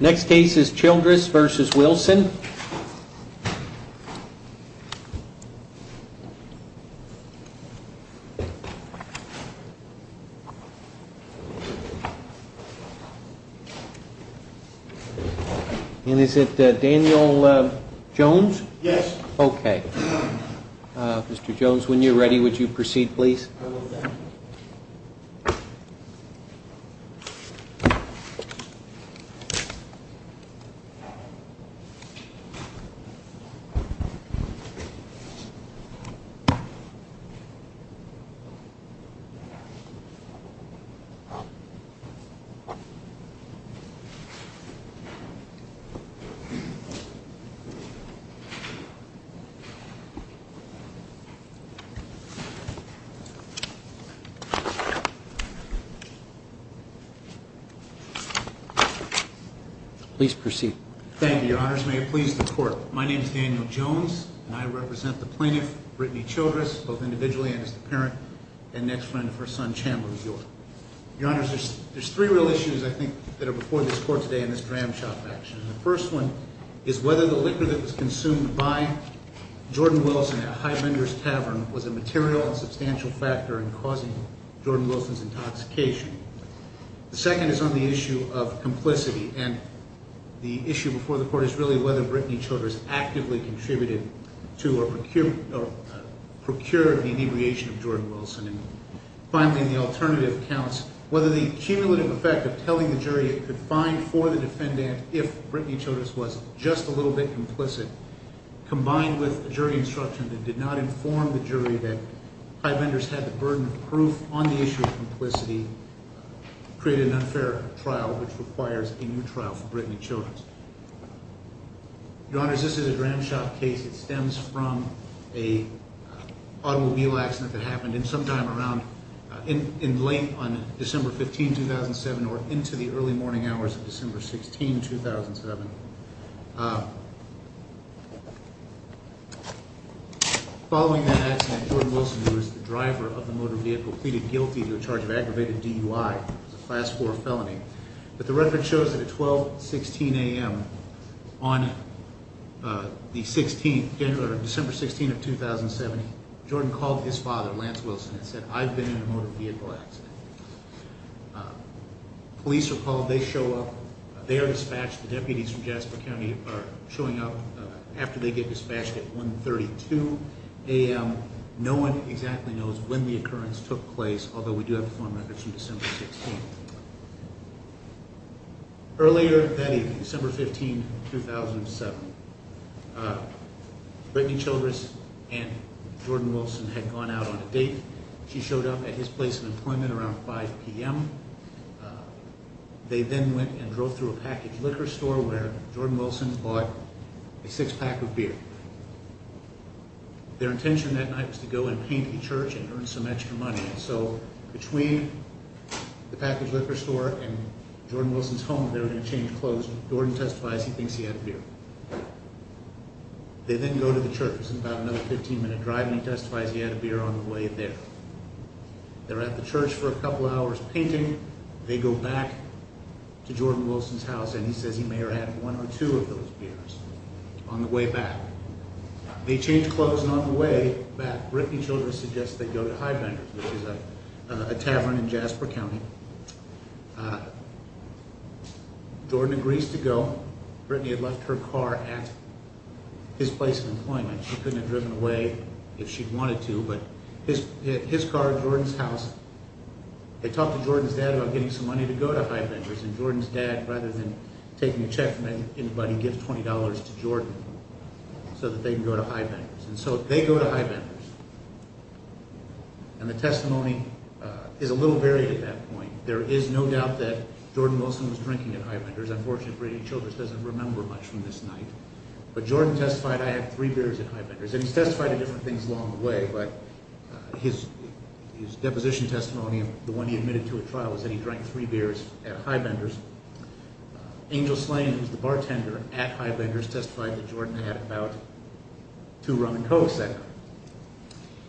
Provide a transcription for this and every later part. Next case is Childress v. Wilson. And is it Daniel Jones? Yes. Okay. Mr. Jones, when you're ready, would you proceed please? Okay. Please proceed. Thank you, Your Honors. May it please the Court. My name is Daniel Jones, and I represent the plaintiff, Brittany Childress, both individually and as the parent and next friend of her son, Chandler Bjork. Your Honors, there's three real issues, I think, that are before this Court today in this gram shop action. The first one is whether the liquor that was consumed by Jordan Wilson at Highlanders Tavern was a material and substantial factor in causing Jordan Wilson's intoxication. The second is on the issue of complicity. And the issue before the Court is really whether Brittany Childress actively contributed to or procured the inebriation of Jordan Wilson. And finally, in the alternative accounts, whether the cumulative effect of telling the jury it could find for the defendant if Brittany Childress was just a little bit complicit, combined with a jury instruction that did not inform the jury that Highlanders had the burden of proof on the issue of complicity, created an unfair trial which requires a new trial for Brittany Childress. Your Honors, this is a gram shop case. It stems from an automobile accident that happened sometime around, in late on December 15, 2007, or into the early morning hours of December 16, 2007. Following that accident, Jordan Wilson, who was the driver of the motor vehicle, pleaded guilty to a charge of aggravated DUI. It was a Class 4 felony. But the record shows that at 12.16 a.m. on December 16, 2007, Jordan called his father, Lance Wilson, and said, I've been in a motor vehicle accident. Police are called. They show up. They are dispatched. The deputies from Jasper County are showing up after they get dispatched at 1.32 a.m. No one exactly knows when the occurrence took place, although we do have the phone records from December 16. Earlier that evening, December 15, 2007, Brittany Childress and Jordan Wilson had gone out on a date. She showed up at his place of employment around 5 p.m. They then went and drove through a packaged liquor store where Jordan Wilson bought a six-pack of beer. Their intention that night was to go and paint a church and earn some extra money. So between the packaged liquor store and Jordan Wilson's home, they were going to change clothes. Jordan testifies he thinks he had a beer. They then go to the church. It's about another 15-minute drive, and he testifies he had a beer on the way there. They're at the church for a couple hours painting. They go back to Jordan Wilson's house, and he says he may have had one or two of those beers on the way back. They change clothes, and on the way back, Brittany Childress suggests they go to Highbenders, which is a tavern in Jasper County. Jordan agrees to go. Brittany had left her car at his place of employment. She couldn't have driven away if she'd wanted to, but his car at Jordan's house. They talk to Jordan's dad about getting some money to go to Highbenders, and Jordan's dad, rather than taking a check from anybody, gives $20 to Jordan so that they can go to Highbenders. So they go to Highbenders. The testimony is a little varied at that point. There is no doubt that Jordan Wilson was drinking at Highbenders. Unfortunately, Brittany Childress doesn't remember much from this night. But Jordan testified, I had three beers at Highbenders, and he's testified to different things along the way, but his deposition testimony, the one he admitted to at trial, was that he drank three beers at Highbenders. Angel Slane, who's the bartender at Highbenders, testified that Jordan had about two rum and cokes that night.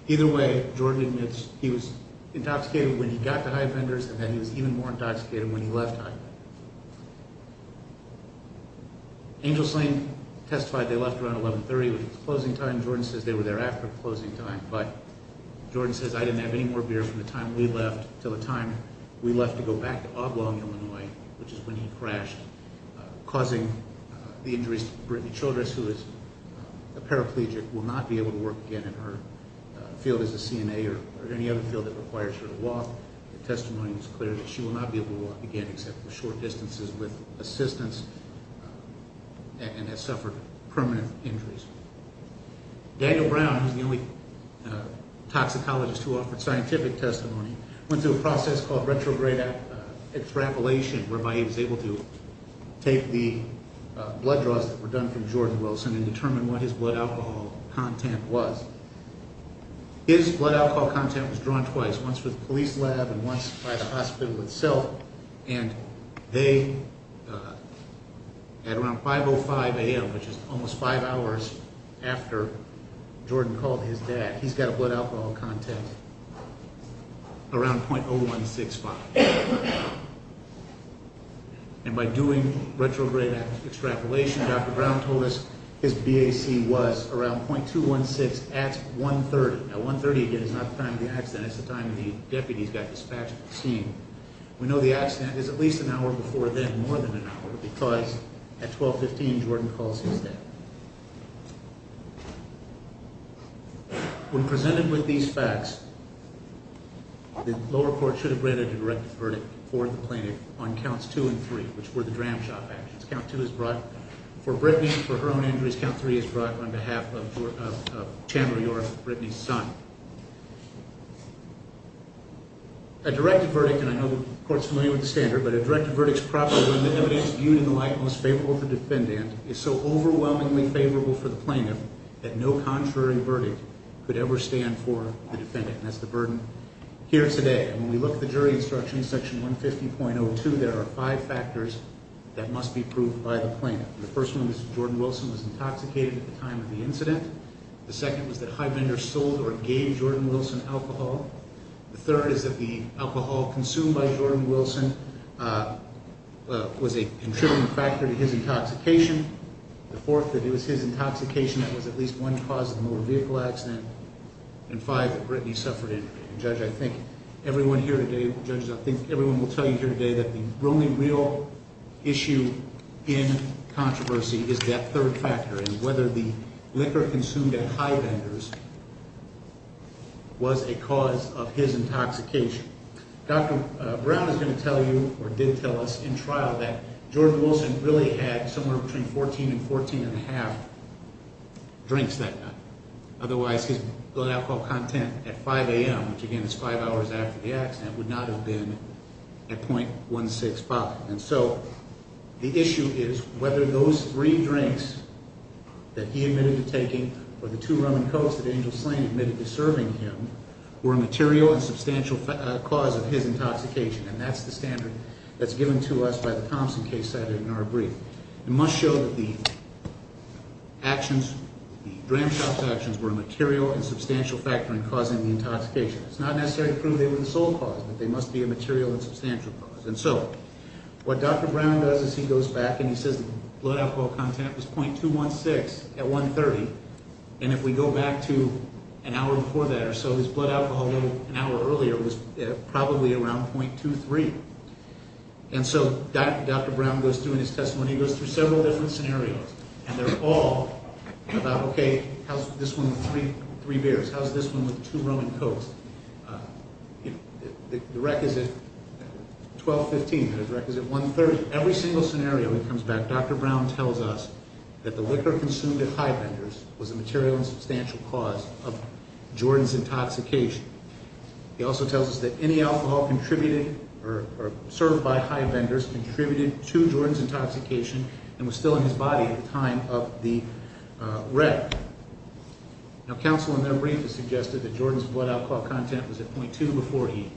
Either way, Jordan admits he was intoxicated when he got to Highbenders, and then he was even more intoxicated when he left Highbenders. Angel Slane testified they left around 1130, which was closing time. Jordan says they were there after closing time. But Jordan says, I didn't have any more beer from the time we left until the time we left to go back to Oblong, Illinois, which is when he crashed, causing the injuries to Brittany Childress, who is a paraplegic, will not be able to work again in her field as a CNA or any other field that requires her to walk. The testimony was clear that she will not be able to walk again except for short distances with assistance and has suffered permanent injuries. Daniel Brown, who's the only toxicologist who offered scientific testimony, went through a process called retrograde extrapolation, whereby he was able to take the blood draws that were done from Jordan Wilson and determine what his blood alcohol content was. His blood alcohol content was drawn twice, once from the police lab and once by the hospital itself, and they, at around 5.05 a.m., which is almost five hours after Jordan called his dad, he's got a blood alcohol content around .0165. And by doing retrograde extrapolation, Dr. Brown told us his BAC was around .216, and that's 1.30. Now, 1.30 again is not the time of the accident. It's the time the deputies got dispatched to the scene. We know the accident is at least an hour before then, more than an hour, because at 12.15, Jordan calls his dad. When presented with these facts, the lower court should have granted a directed verdict for the plaintiff on counts two and three, which were the dram shop actions. Count two is brought for Brittany, for her own injuries. Count three is brought on behalf of Tamara York, Brittany's son. A directed verdict, and I know the court's familiar with the standard, but a directed verdict is properly when the evidence viewed in the light most favorable for the defendant is so overwhelmingly favorable for the plaintiff that no contrary verdict could ever stand for the defendant. And that's the burden here today. And when we look at the jury instructions, Section 150.02, there are five factors that must be proved by the plaintiff. The first one is Jordan Wilson was intoxicated at the time of the incident. The second was that Highbender sold or gave Jordan Wilson alcohol. The third is that the alcohol consumed by Jordan Wilson was a contributing factor to his intoxication. The fourth, that it was his intoxication that was at least one cause of the motor vehicle accident. And five, that Brittany suffered injury. Judge, I think everyone here today, judges, I think everyone will tell you here today that the only real issue in controversy is that third factor, and whether the liquor consumed at Highbender's was a cause of his intoxication. Dr. Brown is going to tell you, or did tell us in trial, that Jordan Wilson really had somewhere between 14 and 14.5 drinks that night. Otherwise his blood alcohol content at 5 a.m., which again is five hours after the accident, would not have been at .165. And so the issue is whether those three drinks that he admitted to taking or the two rum and cokes that Angel Slane admitted to serving him were a material and substantial cause of his intoxication. And that's the standard that's given to us by the Thompson case cited in our brief. It must show that the actions, the dram shop's actions, were a material and substantial factor in causing the intoxication. It's not necessary to prove they were the sole cause, but they must be a material and substantial cause. And so what Dr. Brown does is he goes back and he says blood alcohol content was .216 at 1.30 and if we go back to an hour before that or so, his blood alcohol level an hour earlier was probably around .23. And so Dr. Brown goes through in his testimony, he goes through several different scenarios, and they're all about, okay, how's this one with three beers? How's this one with two rum and cokes? The rec is at .1215 and the rec is at 1.30. Every single scenario he comes back, Dr. Brown tells us that the liquor consumed at Highbenders was a material and substantial cause of Jordan's intoxication. He also tells us that any alcohol contributed or served by Highbenders contributed to Jordan's intoxication and was still in his body at the time of the rec. Now, counsel in their brief has suggested that Jordan's blood alcohol content was at .2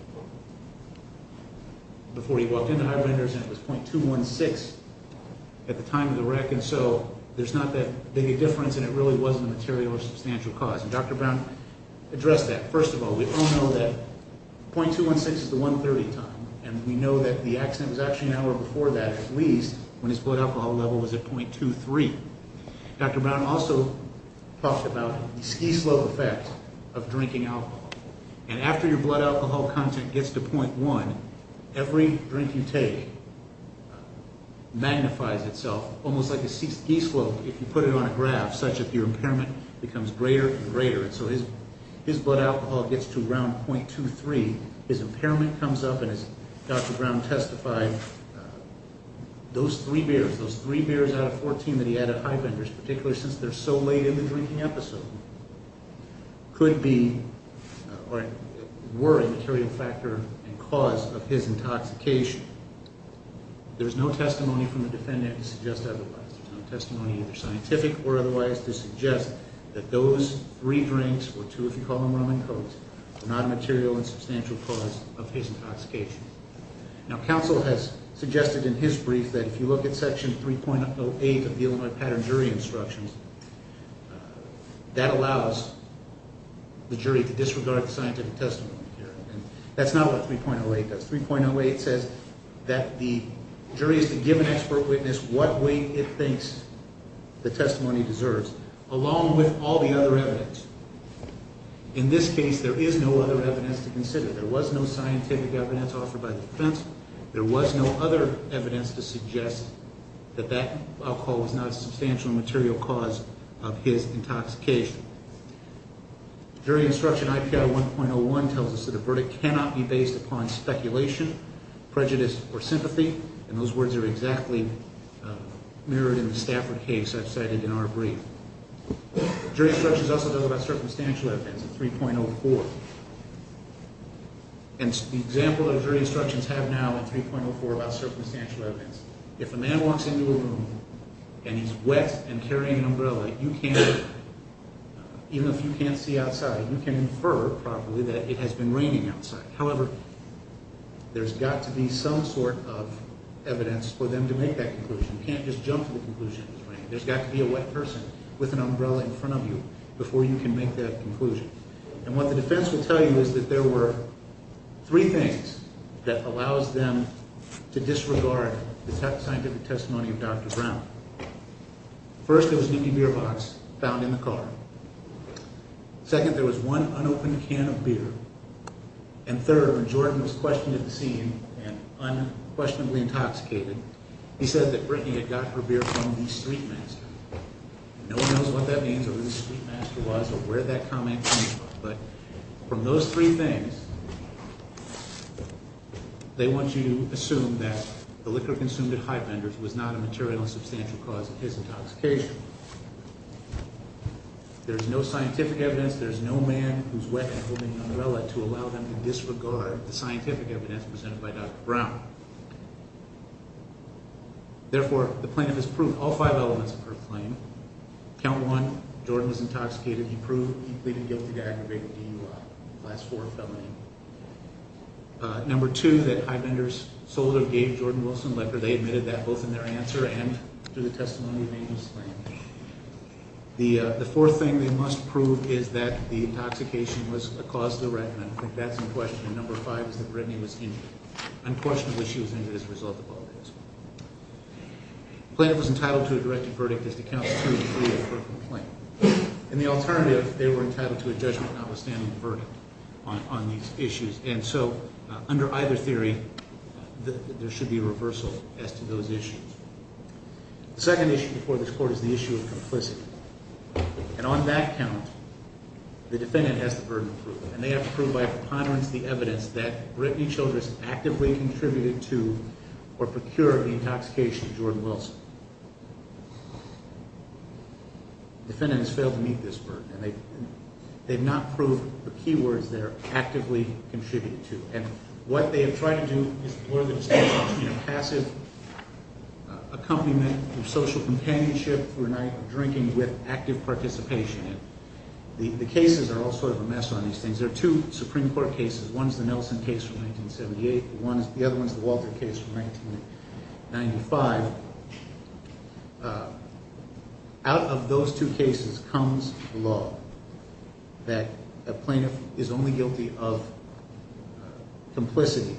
before he walked into Highbenders and it was .216 at the time of the rec, and so there's not that big a difference and it really wasn't a material or substantial cause. And Dr. Brown addressed that. First of all, we all know that .216 is the 1.30 time, and we know that the accident was actually an hour before that, at least, when his blood alcohol level was at .23. Dr. Brown also talked about the ski slope effect of drinking alcohol, and after your blood alcohol content gets to .1, every drink you take magnifies itself almost like a ski slope if you put it on a graph such that your impairment becomes greater and greater, and so his blood alcohol gets to around .23. His impairment comes up, and as Dr. Brown testified, those three beers, those three beers out of 14 that he had at Highbenders, particularly since they're so late in the drinking episode, could be or were a material factor and cause of his intoxication. There's no testimony from the defendant to suggest otherwise. There's no testimony, either scientific or otherwise, to suggest that those three drinks, or two if you call them rum and cokes, were not a material and substantial cause of his intoxication. Now, counsel has suggested in his brief that if you look at Section 3.08 of the Illinois Pattern Jury Instructions, that allows the jury to disregard the scientific testimony here, and that's not what 3.08 does. 3.08 says that the jury is to give an expert witness what weight it thinks the testimony deserves, along with all the other evidence. In this case, there is no other evidence to consider. There was no scientific evidence offered by the defense. There was no other evidence to suggest that that alcohol was not a substantial and material cause of his intoxication. Jury Instruction IPI 1.01 tells us that a verdict cannot be based upon speculation, prejudice, or sympathy, and those words are exactly mirrored in the Stafford case I've cited in our brief. Jury Instructions also tells us about circumstantial evidence in 3.04. And the example that Jury Instructions have now in 3.04 about circumstantial evidence, if a man walks into a room and he's wet and carrying an umbrella, you can't infer, even if you can't see outside, you can infer properly that it has been raining outside. However, there's got to be some sort of evidence for them to make that conclusion. You can't just jump to the conclusion that it's raining. There's got to be a wet person with an umbrella in front of you before you can make that conclusion. And what the defense will tell you is that there were three things that allows them to disregard the scientific testimony of Dr. Brown. First, there was an empty beer box found in the car. Second, there was one unopened can of beer. And third, when Jordan was questioned at the scene and unquestionably intoxicated, he said that Brittany had got her beer from the street master. No one knows what that means or who the street master was or where that comment came from. But from those three things, they want you to assume that the liquor consumed at Heitmender's was not a material and substantial cause of his intoxication. There's no scientific evidence. There's no man who's wet and holding an umbrella to allow them to disregard the scientific evidence presented by Dr. Brown. Therefore, the plaintiff has proved all five elements of her claim. Count one, Jordan was intoxicated. He proved he pleaded guilty to aggravated DUI, Class IV felony. Number two, that Heitmender's solder gave Jordan Wilson liquor. They admitted that both in their answer and through the testimony of Angel Slane. The fourth thing they must prove is that the intoxication was a cause of the reckoning. And I think that's in question. And number five is that Brittany was injured. Unquestionably, she was injured as a result of all of this. The plaintiff was entitled to a directed verdict as to counts two and three of her complaint. And the alternative, they were entitled to a judgment notwithstanding the verdict on these issues. And so under either theory, there should be a reversal as to those issues. The second issue before this Court is the issue of complicity. And on that count, the defendant has the burden of proof. And they have to prove by preponderance the evidence that Brittany Childress actively contributed to or procured the intoxication of Jordan Wilson. The defendant has failed to meet this burden. And they've not proved the key words there, actively contributed to. And what they have tried to do is more than just passive accompaniment through social companionship through drinking with active participation. And the cases are all sort of a mess on these things. There are two Supreme Court cases. One is the Nelson case from 1978. The other one is the Walter case from 1995. Out of those two cases comes law that a plaintiff is only guilty of complicity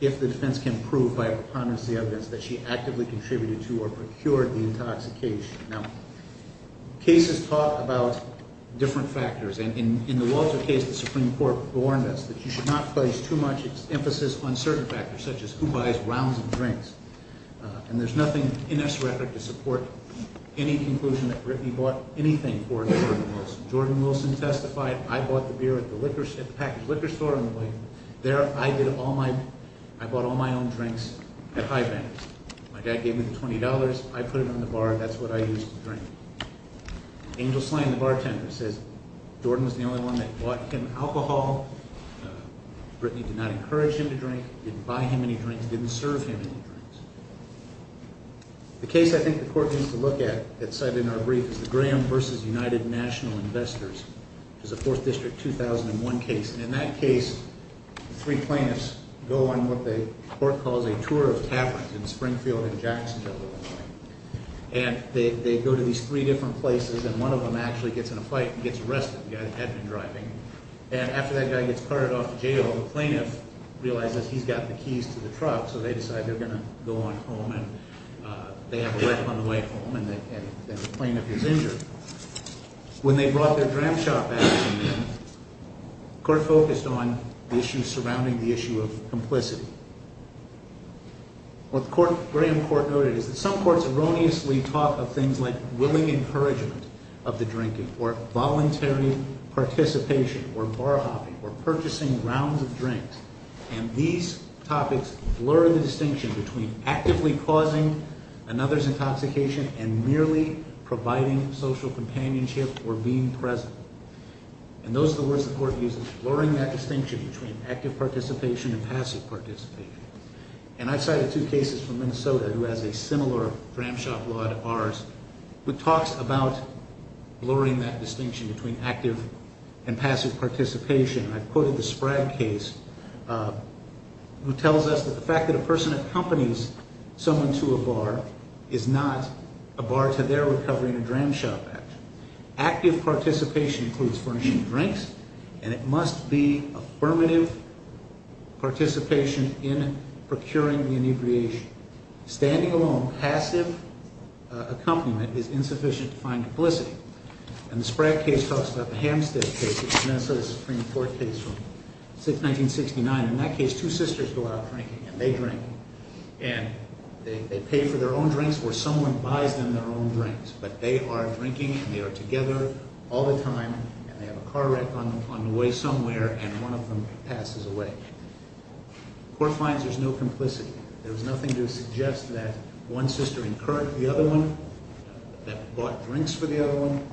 if the defense can prove by preponderance the evidence that she actively contributed to or procured the intoxication. Now, cases talk about different factors. And in the Walter case, the Supreme Court warned us that you should not place too much emphasis on certain factors, such as who buys rounds of drinks. And there's nothing in this record to support any conclusion that Brittany bought anything for Jordan Wilson. Jordan Wilson testified, I bought the beer at the packaged liquor store on the way. There, I bought all my own drinks at High Bank. My dad gave me the $20, I put it in the bar. That's what I used to drink. Angel Slane, the bartender, says Jordan was the only one that bought him alcohol. Brittany did not encourage him to drink, didn't buy him any drinks, didn't serve him any drinks. The case I think the Court needs to look at that's cited in our brief is the Graham v. United National Investors, which is a Fourth District 2001 case. And in that case, three plaintiffs go on what the Court calls a tour of taverns in Springfield and Jacksonville. And they go to these three different places, and one of them actually gets in a fight and gets arrested, the guy that had been driving. And after that guy gets carted off to jail, the plaintiff realizes he's got the keys to the truck, so they decide they're going to go on home, and they have a wreck on the way home, and the plaintiff is injured. When they brought their Dram Shop action in, the Court focused on the issues surrounding the issue of complicity. What the Graham Court noted is that some courts erroneously talk of things like willing encouragement of the drinking or voluntary participation or bar hopping or purchasing rounds of drinks, and these topics blur the distinction between actively causing another's intoxication and merely providing social companionship or being present. And those are the words the Court uses, blurring that distinction between active participation and passive participation. And I've cited two cases from Minnesota who has a similar Dram Shop law to ours, which talks about blurring that distinction between active and passive participation. I've quoted the Sprague case, who tells us that the fact that a person accompanies someone to a bar is not a bar to their recovery in a Dram Shop action. Active participation includes furnishing drinks, and it must be affirmative participation in procuring the inebriation. Standing alone, passive accompaniment is insufficient to find complicity. And the Sprague case talks about the Hampstead case, which is a Minnesota Supreme Court case from 1969. In that case, two sisters go out drinking, and they drink. And they pay for their own drinks where someone buys them their own drinks. But they are drinking, and they are together all the time. And they have a car wreck on the way somewhere, and one of them passes away. The Court finds there's no complicity. There's nothing to suggest that one sister incurred the other one, that bought drinks for the other one.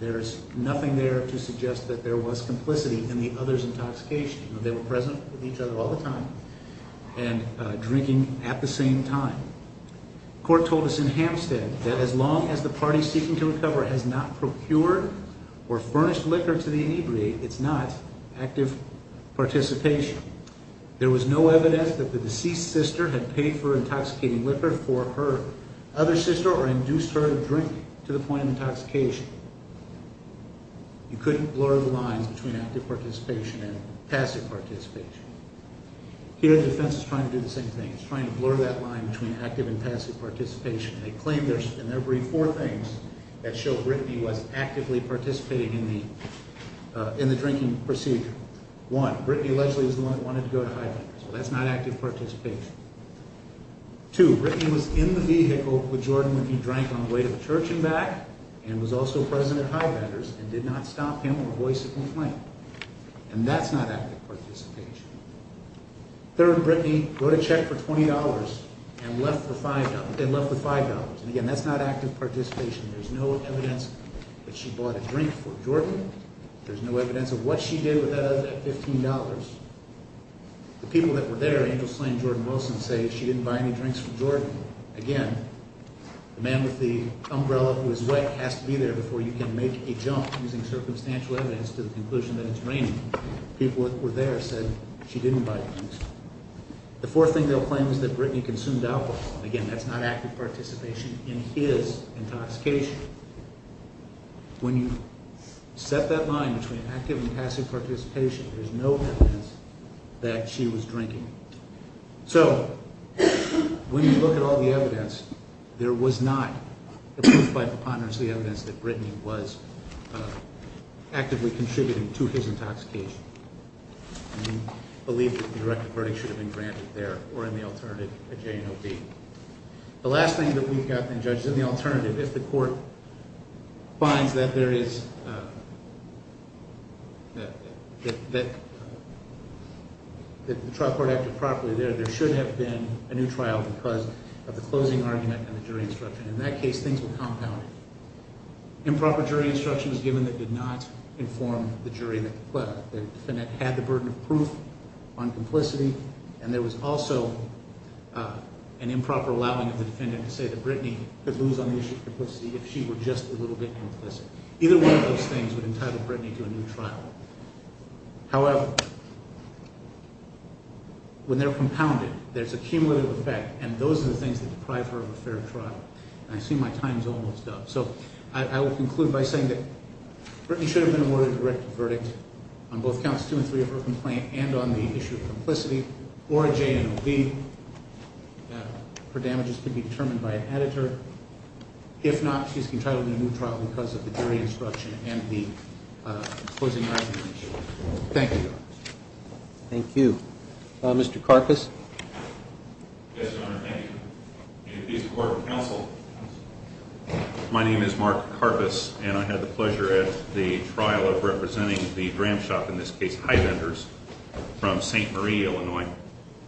There's nothing there to suggest that there was complicity in the other's intoxication. They were present with each other all the time and drinking at the same time. The Court told us in Hampstead that as long as the party seeking to recover has not procured or furnished liquor to the inebriate, it's not active participation. There was no evidence that the deceased sister had paid for intoxicating liquor for her other sister or induced her to drink to the point of intoxication. You couldn't blur the lines between active participation and passive participation. Here the defense is trying to do the same thing. It's trying to blur that line between active and passive participation. They claim in their brief four things that show Brittany was actively participating in the drinking procedure. One, Brittany allegedly was the one that wanted to go to Highbender's. Well, that's not active participation. Two, Brittany was in the vehicle with Jordan when he drank on the way to the church and back and was also present at Highbender's and did not stop him or voice a complaint. And that's not active participation. Third, Brittany wrote a check for $20 and left with $5. Again, that's not active participation. There's no evidence that she bought a drink for Jordan. There's no evidence of what she did with that $15. The people that were there, Angel Slane and Jordan Wilson, say she didn't buy any drinks for Jordan. Again, the man with the umbrella who was wet has to be there before you can make a jump using circumstantial evidence to the conclusion that it's raining. People that were there said she didn't buy drinks. The fourth thing they'll claim is that Brittany consumed alcohol. Again, that's not active participation in his intoxication. When you set that line between active and passive participation, there's no evidence that she was drinking. So when you look at all the evidence, there was not, by preponderance, the evidence that Brittany was actively contributing to his intoxication. And we believe that the directive verdict should have been granted there or in the alternative at J&OB. The last thing that we've got, then, judges, in the alternative, if the court finds that the trial court acted properly there, there should have been a new trial because of the closing argument and the jury instruction. In that case, things were compounded. Improper jury instruction was given that did not inform the jury that the defendant had the burden of proof on complicity, and there was also an improper allowing of the defendant to say that Brittany could lose on the issue of complicity if she were just a little bit implicit. Either one of those things would entitle Brittany to a new trial. However, when they're compounded, there's a cumulative effect, and those are the things that deprive her of a fair trial. And I assume my time is almost up. So I will conclude by saying that Brittany should have been awarded a directive verdict on both counts 2 and 3 of her complaint and on the issue of complicity or J&OB. Her damages could be determined by an editor. If not, she's entitled to a new trial because of the jury instruction and the closing argument. Thank you, Your Honor. Thank you. Mr. Karpus. Yes, Your Honor. Thank you. Entities of court and counsel, my name is Mark Karpus, and I had the pleasure at the trial of representing the Gramshop, in this case, Highlanders from St. Marie, Illinois.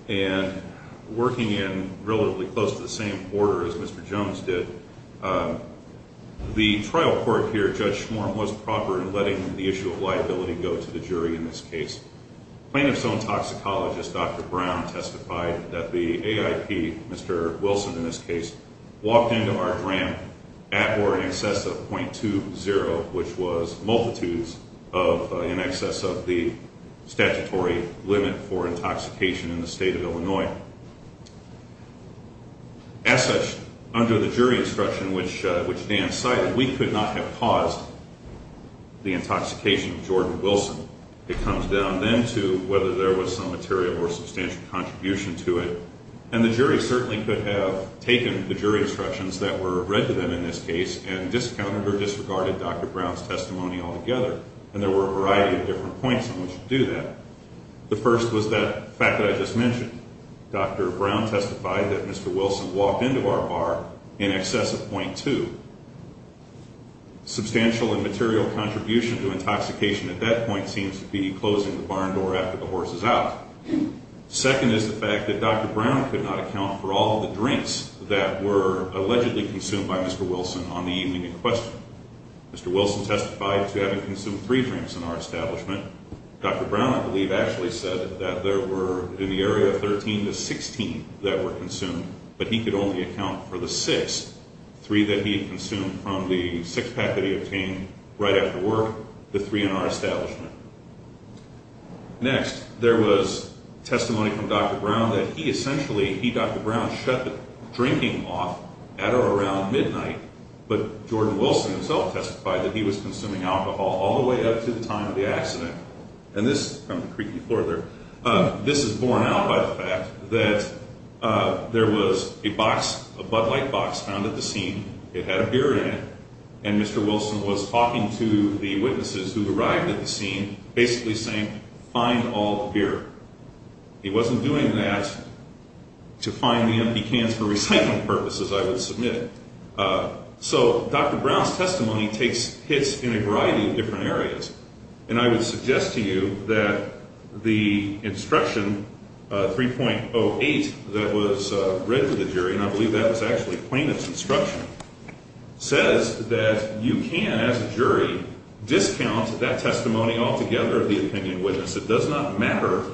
And working in relatively close to the same border as Mr. Jones did, the trial court here, Judge Schmorm, was proper in letting the issue of liability go to the jury in this case. Plaintiff's own toxicologist, Dr. Brown, testified that the AIP, Mr. Wilson in this case, walked into our grant at or in excess of .20, which was multitudes in excess of the statutory limit for intoxication in the state of Illinois. As such, under the jury instruction which Dan cited, we could not have caused the intoxication of Jordan Wilson. It comes down then to whether there was some material or substantial contribution to it. And the jury certainly could have taken the jury instructions that were read to them in this case and discounted or disregarded Dr. Brown's testimony altogether. And there were a variety of different points on which to do that. The first was that fact that I just mentioned. Dr. Brown testified that Mr. Wilson walked into our bar in excess of .20. Substantial and material contribution to intoxication at that point seems to be closing the barn door after the horse is out. Second is the fact that Dr. Brown could not account for all of the drinks that were allegedly consumed by Mr. Wilson on the evening in question. Mr. Wilson testified to having consumed three drinks in our establishment. Dr. Brown, I believe, actually said that there were in the area of 13 to 16 that were consumed, but he could only account for the six, three that he had consumed from the six-pack that he obtained right after work, the three in our establishment. Next, there was testimony from Dr. Brown that he essentially, he, Dr. Brown, shut the drinking off at or around midnight, but Jordan Wilson himself testified that he was consuming alcohol all the way up to the time of the accident. And this, on the creaky floor there, this is borne out by the fact that there was a box, a Bud Light box found at the scene. It had a beer in it, and Mr. Wilson was talking to the witnesses who arrived at the scene, basically saying, find all the beer. He wasn't doing that to find the empty cans for recycling purposes, I would submit. So Dr. Brown's testimony takes hits in a variety of different areas, and I would suggest to you that the instruction 3.08 that was read to the jury, and I believe that was actually plaintiff's instruction, says that you can, as a jury, discount that testimony altogether of the opinion witness. It does not matter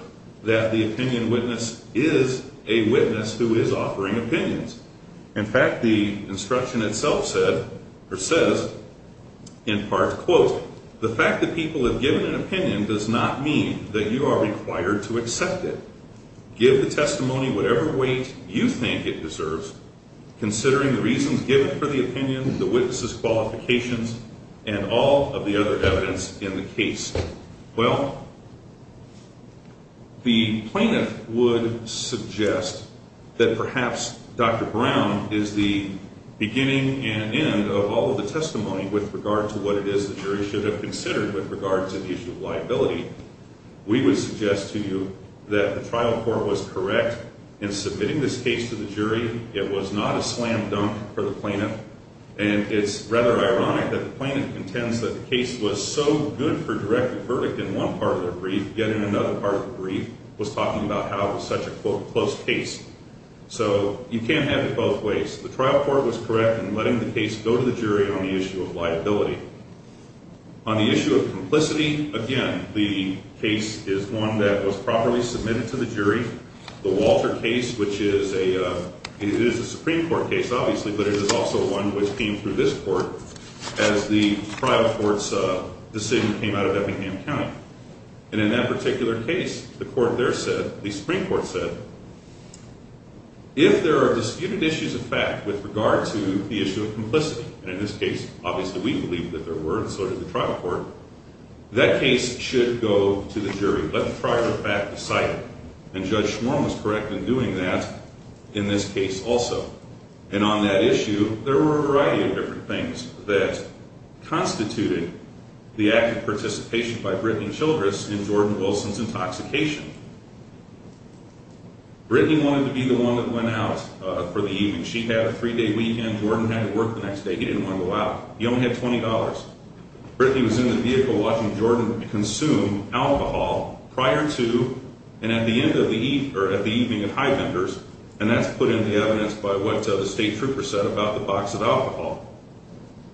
that the opinion witness is a witness who is offering opinions. In fact, the instruction itself said, or says, in part, quote, the fact that people have given an opinion does not mean that you are required to accept it. Give the testimony whatever weight you think it deserves, considering the reasons given for the opinion, the witnesses' qualifications, and all of the other evidence in the case. Well, the plaintiff would suggest that perhaps Dr. Brown is the beginning and end of all of the testimony with regard to what it is the jury should have considered with regard to the issue of liability. We would suggest to you that the trial court was correct in submitting this case to the jury. It was not a slam dunk for the plaintiff, and it's rather ironic that the plaintiff intends that the case was so good for direct verdict in one part of the brief, yet in another part of the brief was talking about how it was such a, quote, close case. So you can't have it both ways. The trial court was correct in letting the case go to the jury on the issue of liability. On the issue of complicity, again, the case is one that was properly submitted to the jury. The Walter case, which is a Supreme Court case, obviously, but it is also one which came through this court as the trial court's decision came out of Eppingham County. And in that particular case, the Supreme Court said, if there are disputed issues of fact with regard to the issue of complicity, and in this case, obviously, we believe that there were, and so did the trial court, that case should go to the jury. Let the trial court back the site. And Judge Schwarm was correct in doing that in this case also. And on that issue, there were a variety of different things that constituted the active participation by Brittney Childress in Jordan Wilson's intoxication. Brittney wanted to be the one that went out for the evening. She had a three-day weekend. Jordan had to work the next day. He didn't want to go out. He only had $20. Brittney was in the vehicle watching Jordan consume alcohol prior to and at the end of the evening at Highlanders, and that's put in the evidence by what the state trooper said about the box of alcohol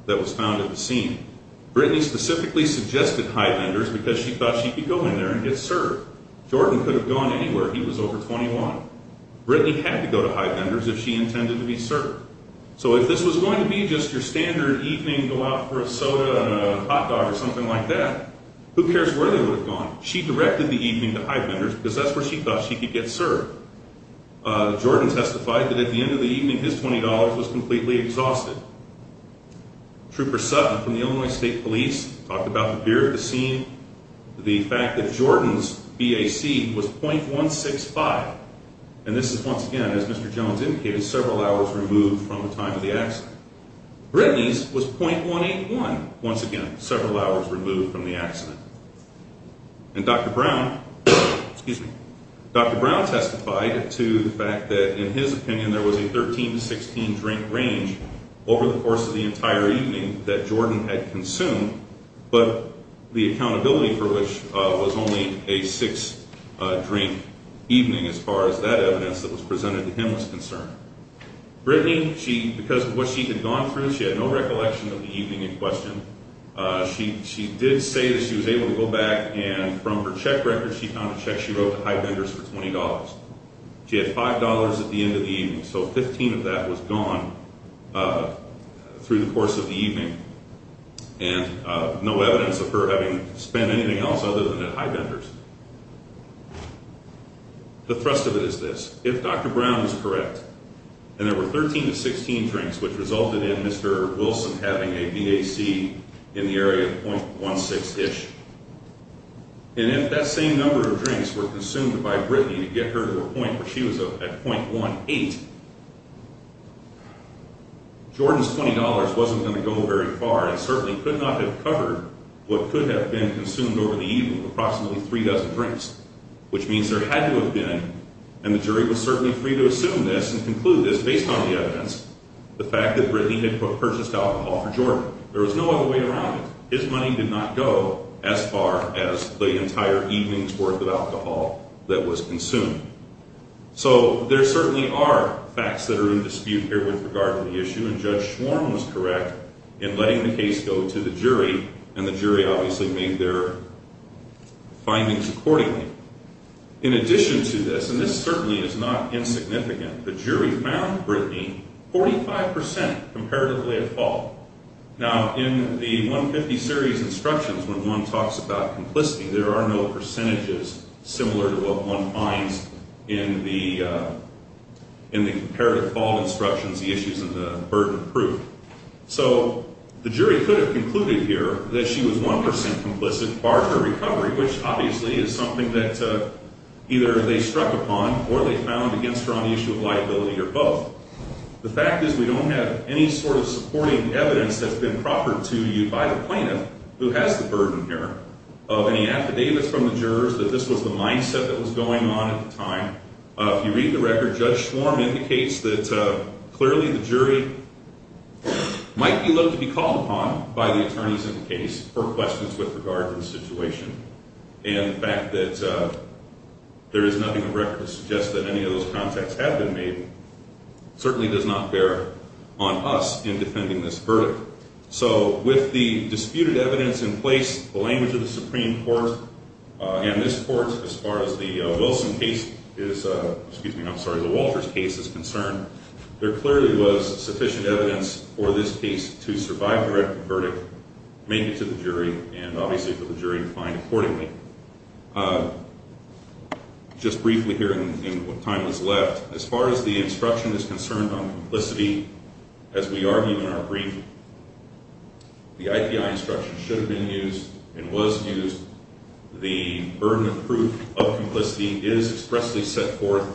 that was found at the scene. Brittney specifically suggested Highlanders because she thought she could go in there and get served. Jordan could have gone anywhere. He was over 21. Brittney had to go to Highlanders if she intended to be served. So if this was going to be just your standard evening to go out for a soda and a hot dog or something like that, who cares where they would have gone? She directed the evening to Highlanders because that's where she thought she could get served. Jordan testified that at the end of the evening, his $20 was completely exhausted. Trooper Sutton from the Illinois State Police talked about the beer at the scene, the fact that Jordan's BAC was .165. And this is, once again, as Mr. Jones indicated, several hours removed from the time of the accident. Brittney's was .181, once again, several hours removed from the accident. And Dr. Brown testified to the fact that, in his opinion, there was a 13 to 16 drink range over the course of the entire evening that Jordan had consumed, but the accountability for which was only a six-drink evening as far as that evidence that was presented to him was concerned. Brittney, because of what she had gone through, she had no recollection of the evening in question. She did say that she was able to go back, and from her check record, she found a check she wrote to Highlanders for $20. She had $5 at the end of the evening, so 15 of that was gone through the course of the evening. And no evidence of her having spent anything else other than at Highlanders. The thrust of it is this. If Dr. Brown is correct, and there were 13 to 16 drinks, which resulted in Mr. Wilson having a BAC in the area of .16-ish, and if that same number of drinks were consumed by Brittney to get her to a point where she was at .18, Jordan's $20 wasn't going to go very far. It certainly could not have covered what could have been consumed over the evening of approximately three dozen drinks, which means there had to have been, and the jury was certainly free to assume this and conclude this based on the evidence, the fact that Brittney had purchased alcohol for Jordan. There was no other way around it. His money did not go as far as the entire evening's worth of alcohol that was consumed. So there certainly are facts that are in dispute here with regard to the issue, and Judge Schwarm was correct in letting the case go to the jury, and the jury obviously made their findings accordingly. In addition to this, and this certainly is not insignificant, the jury found Brittney 45% comparatively at fault. Now, in the 150 series instructions, when one talks about complicity, there are no percentages similar to what one finds in the comparative fault instructions, the issues in the burden of proof. So the jury could have concluded here that she was 1% complicit, bar her recovery, which obviously is something that either they struck upon or they found against her on the issue of liability or both. The fact is we don't have any sort of supporting evidence that's been proffered to you by the plaintiff who has the burden here of any affidavits from the jurors that this was the mindset that was going on at the time. If you read the record, Judge Schwarm indicates that clearly the jury might be looked to be called upon by the attorneys in the case for questions with regard to the situation, and the fact that there is nothing in the record to suggest that any of those contacts have been made certainly does not bear on us in defending this verdict. So with the disputed evidence in place, the language of the Supreme Court, and this court as far as the Wilson case is, excuse me, I'm sorry, the Walters case is concerned, there clearly was sufficient evidence for this case to survive the record verdict, make it to the jury, and obviously for the jury to find accordingly. Just briefly here in what time is left, as far as the instruction is concerned on complicity, as we argue in our brief, the IPI instruction should have been used and was used. The burden of proof of complicity is expressly set forth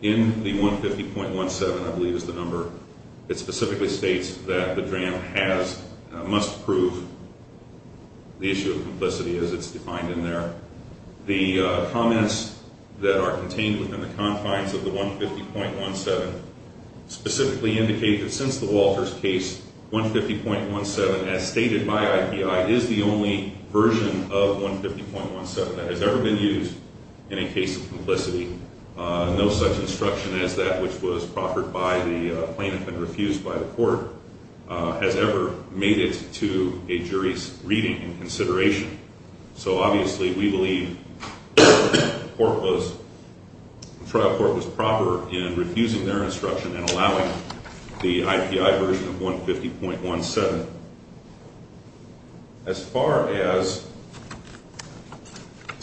in the 150.17, I believe is the number, it specifically states that the DRAM has, must prove the issue of complicity as it's defined in there. The comments that are contained within the confines of the 150.17 specifically indicate that since the Walters case, 150.17 as stated by IPI is the only version of 150.17 that has ever been used in a case of complicity. No such instruction as that which was proffered by the plaintiff and refused by the court has ever made it to a jury's reading and consideration. So obviously we believe the trial court was proper in refusing their instruction and allowing the IPI version of 150.17. As far as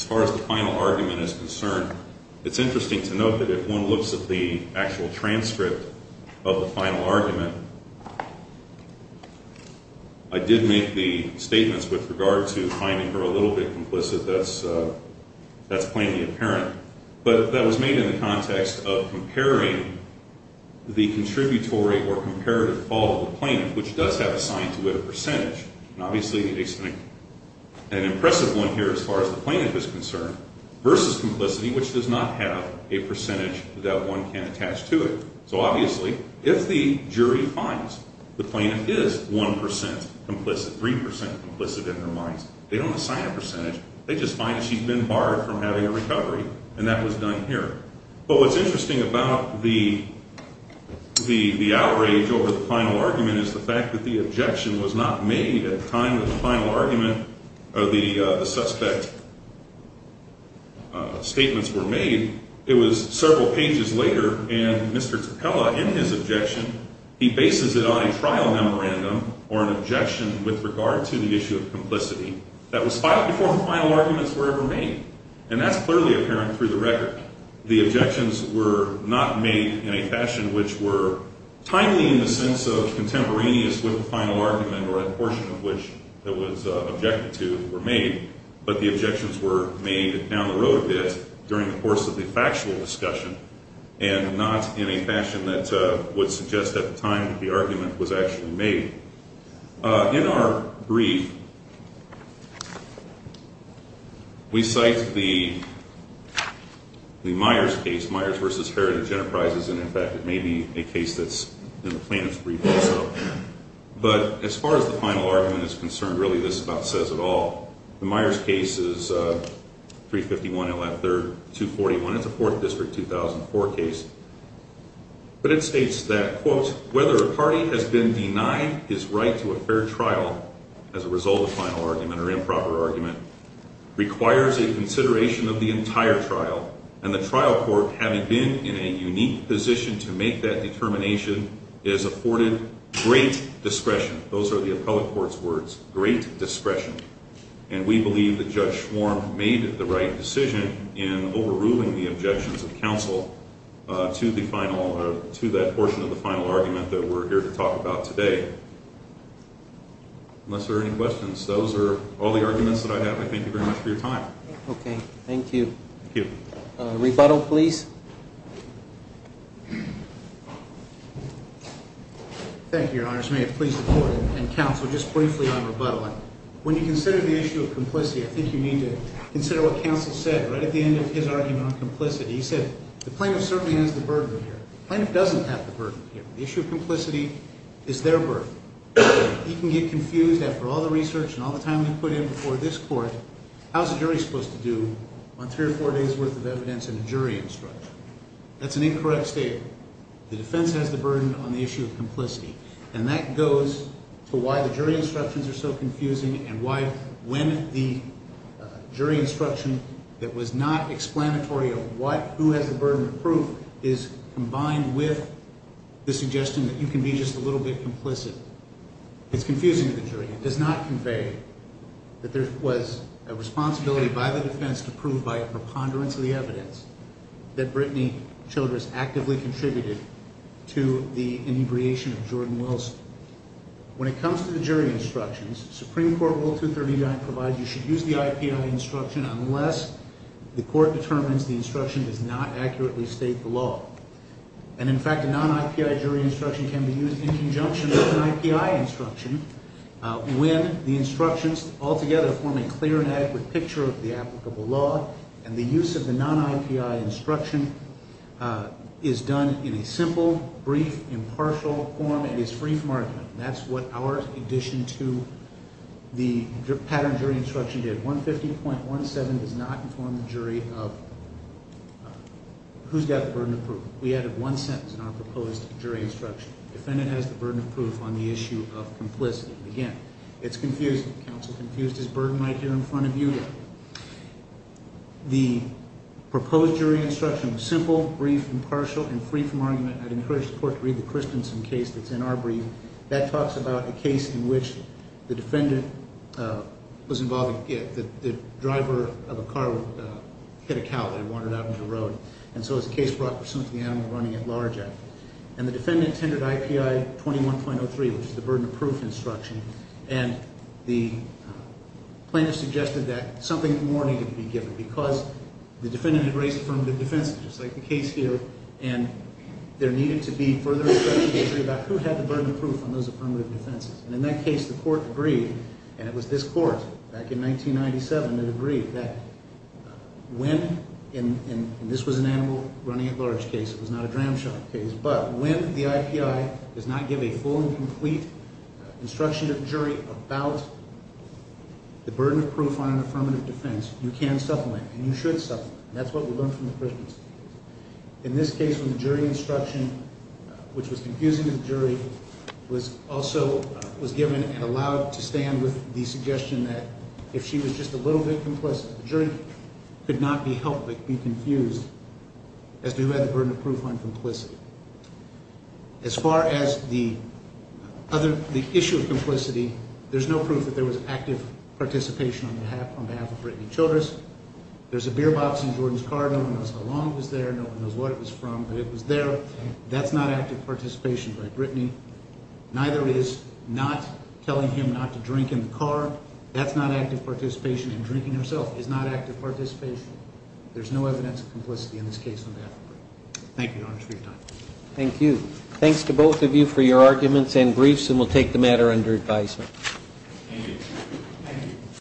the final argument is concerned, it's interesting to note that if one looks at the actual transcript of the final argument, I did make the statements with regard to finding her a little bit complicit, that's plainly apparent. But that was made in the context of comparing the contributory or comparative fall of the plaintiff, which does have assigned to it a percentage. And obviously an impressive one here as far as the plaintiff is concerned versus complicity, which does not have a percentage that one can attach to it. So obviously if the jury finds the plaintiff is 1% complicit, 3% complicit in their minds, they don't assign a percentage. They just find she's been barred from having a recovery, and that was done here. But what's interesting about the outrage over the final argument is the fact that the objection was not made at the time that the final argument or the suspect's statements were made. It was several pages later, and Mr. Tappella, in his objection, he bases it on a trial memorandum or an objection with regard to the issue of complicity that was filed before the final arguments were ever made. And that's clearly apparent through the record. The objections were not made in a fashion which were timely in the sense of contemporaneous with the final argument or that portion of which it was objected to were made, but the objections were made down the road a bit during the course of the factual discussion and not in a fashion that would suggest at the time that the argument was actually made. In our brief, we cite the Myers case, Myers v. Heritage Enterprises, and in fact it may be a case that's in the plaintiff's brief also. But as far as the final argument is concerned, really this about says it all. The Myers case is 351 L.F. 3rd, 241. It's a 4th District, 2004 case. But it states that, quote, whether a party has been denied his right to a fair trial as a result of final argument or improper argument requires a consideration of the entire trial, and the trial court having been in a unique position to make that determination is afforded great discretion. Those are the appellate court's words, great discretion. And we believe that Judge Schwarm made the right decision in overruling the objections of counsel to that portion of the final argument that we're here to talk about today. Unless there are any questions, those are all the arguments that I have. I thank you very much for your time. Thank you. Rebuttal, please. Thank you, Your Honors. May it please the Court and counsel just briefly on rebuttal. When you consider the issue of complicity, I think you need to consider what counsel said right at the end of his argument on complicity. He said the plaintiff certainly has the burden here. The plaintiff doesn't have the burden here. The issue of complicity is their burden. He can get confused after all the research and all the time they put in before this court, how is a jury supposed to do on three or four days' worth of evidence and a jury instruction? That's an incorrect statement. The defense has the burden on the issue of complicity. And that goes to why the jury instructions are so confusing and why when the jury instruction that was not explanatory of what, who has the burden of proof, is combined with the suggestion that you can be just a little bit complicit. It's confusing to the jury. It does not convey that there was a responsibility by the defense to prove by a preponderance of the evidence that Brittany Childress actively contributed to the inebriation of Jordan Wilson. When it comes to the jury instructions, Supreme Court Rule 239 provides you should use the IPI instruction unless the court determines the instruction does not accurately state the law. And, in fact, a non-IPI jury instruction can be used in conjunction with an IPI instruction when the instructions altogether form a clear and adequate picture of the applicable law and the use of the non-IPI instruction is done in a simple, brief, impartial form and is free from argument. That's what our addition to the pattern jury instruction did. 150.17 does not inform the jury of who's got the burden of proof. We added one sentence in our proposed jury instruction. The defendant has the burden of proof on the issue of complicity. Again, it's confusing. The counsel confused his burden right here in front of you. The proposed jury instruction was simple, brief, impartial, and free from argument. I'd encourage the court to read the Christensen case that's in our brief. That talks about a case in which the defendant was involved in the driver of a car hit a cow that had wandered out into the road. And so it's a case brought pursuant to the Animal Running at Large Act. And the defendant tendered IPI 21.03, which is the burden of proof instruction, and the plaintiff suggested that something more needed to be given because the defendant had raised affirmative defenses, just like the case here, and there needed to be further investigation about who had the burden of proof on those affirmative defenses. And in that case, the court agreed, and it was this court back in 1997 that agreed, that when, and this was an animal running at large case, it was not a dram shop case, but when the IPI does not give a full and complete instruction to the jury about the burden of proof on an affirmative defense, you can supplement and you should supplement, and that's what we learned from the Christensen case. In this case, when the jury instruction, which was confusing to the jury, was also given and allowed to stand with the suggestion that if she was just a little bit complicit, the jury could not be helped but be confused as to who had the burden of proof on complicity. As far as the issue of complicity, there's no proof that there was active participation on behalf of Brittany Childress. There's a beer box in Jordan's car. No one knows how long it was there. No one knows what it was from, but it was there. That's not active participation by Brittany. Neither is not telling him not to drink in the car. That's not active participation in drinking herself. It's not active participation. There's no evidence of complicity in this case on behalf of Brittany. Thank you, Your Honor, for your time. Thank you. Thanks to both of you for your arguments and briefs, and we'll take the matter under advisement. Thank you.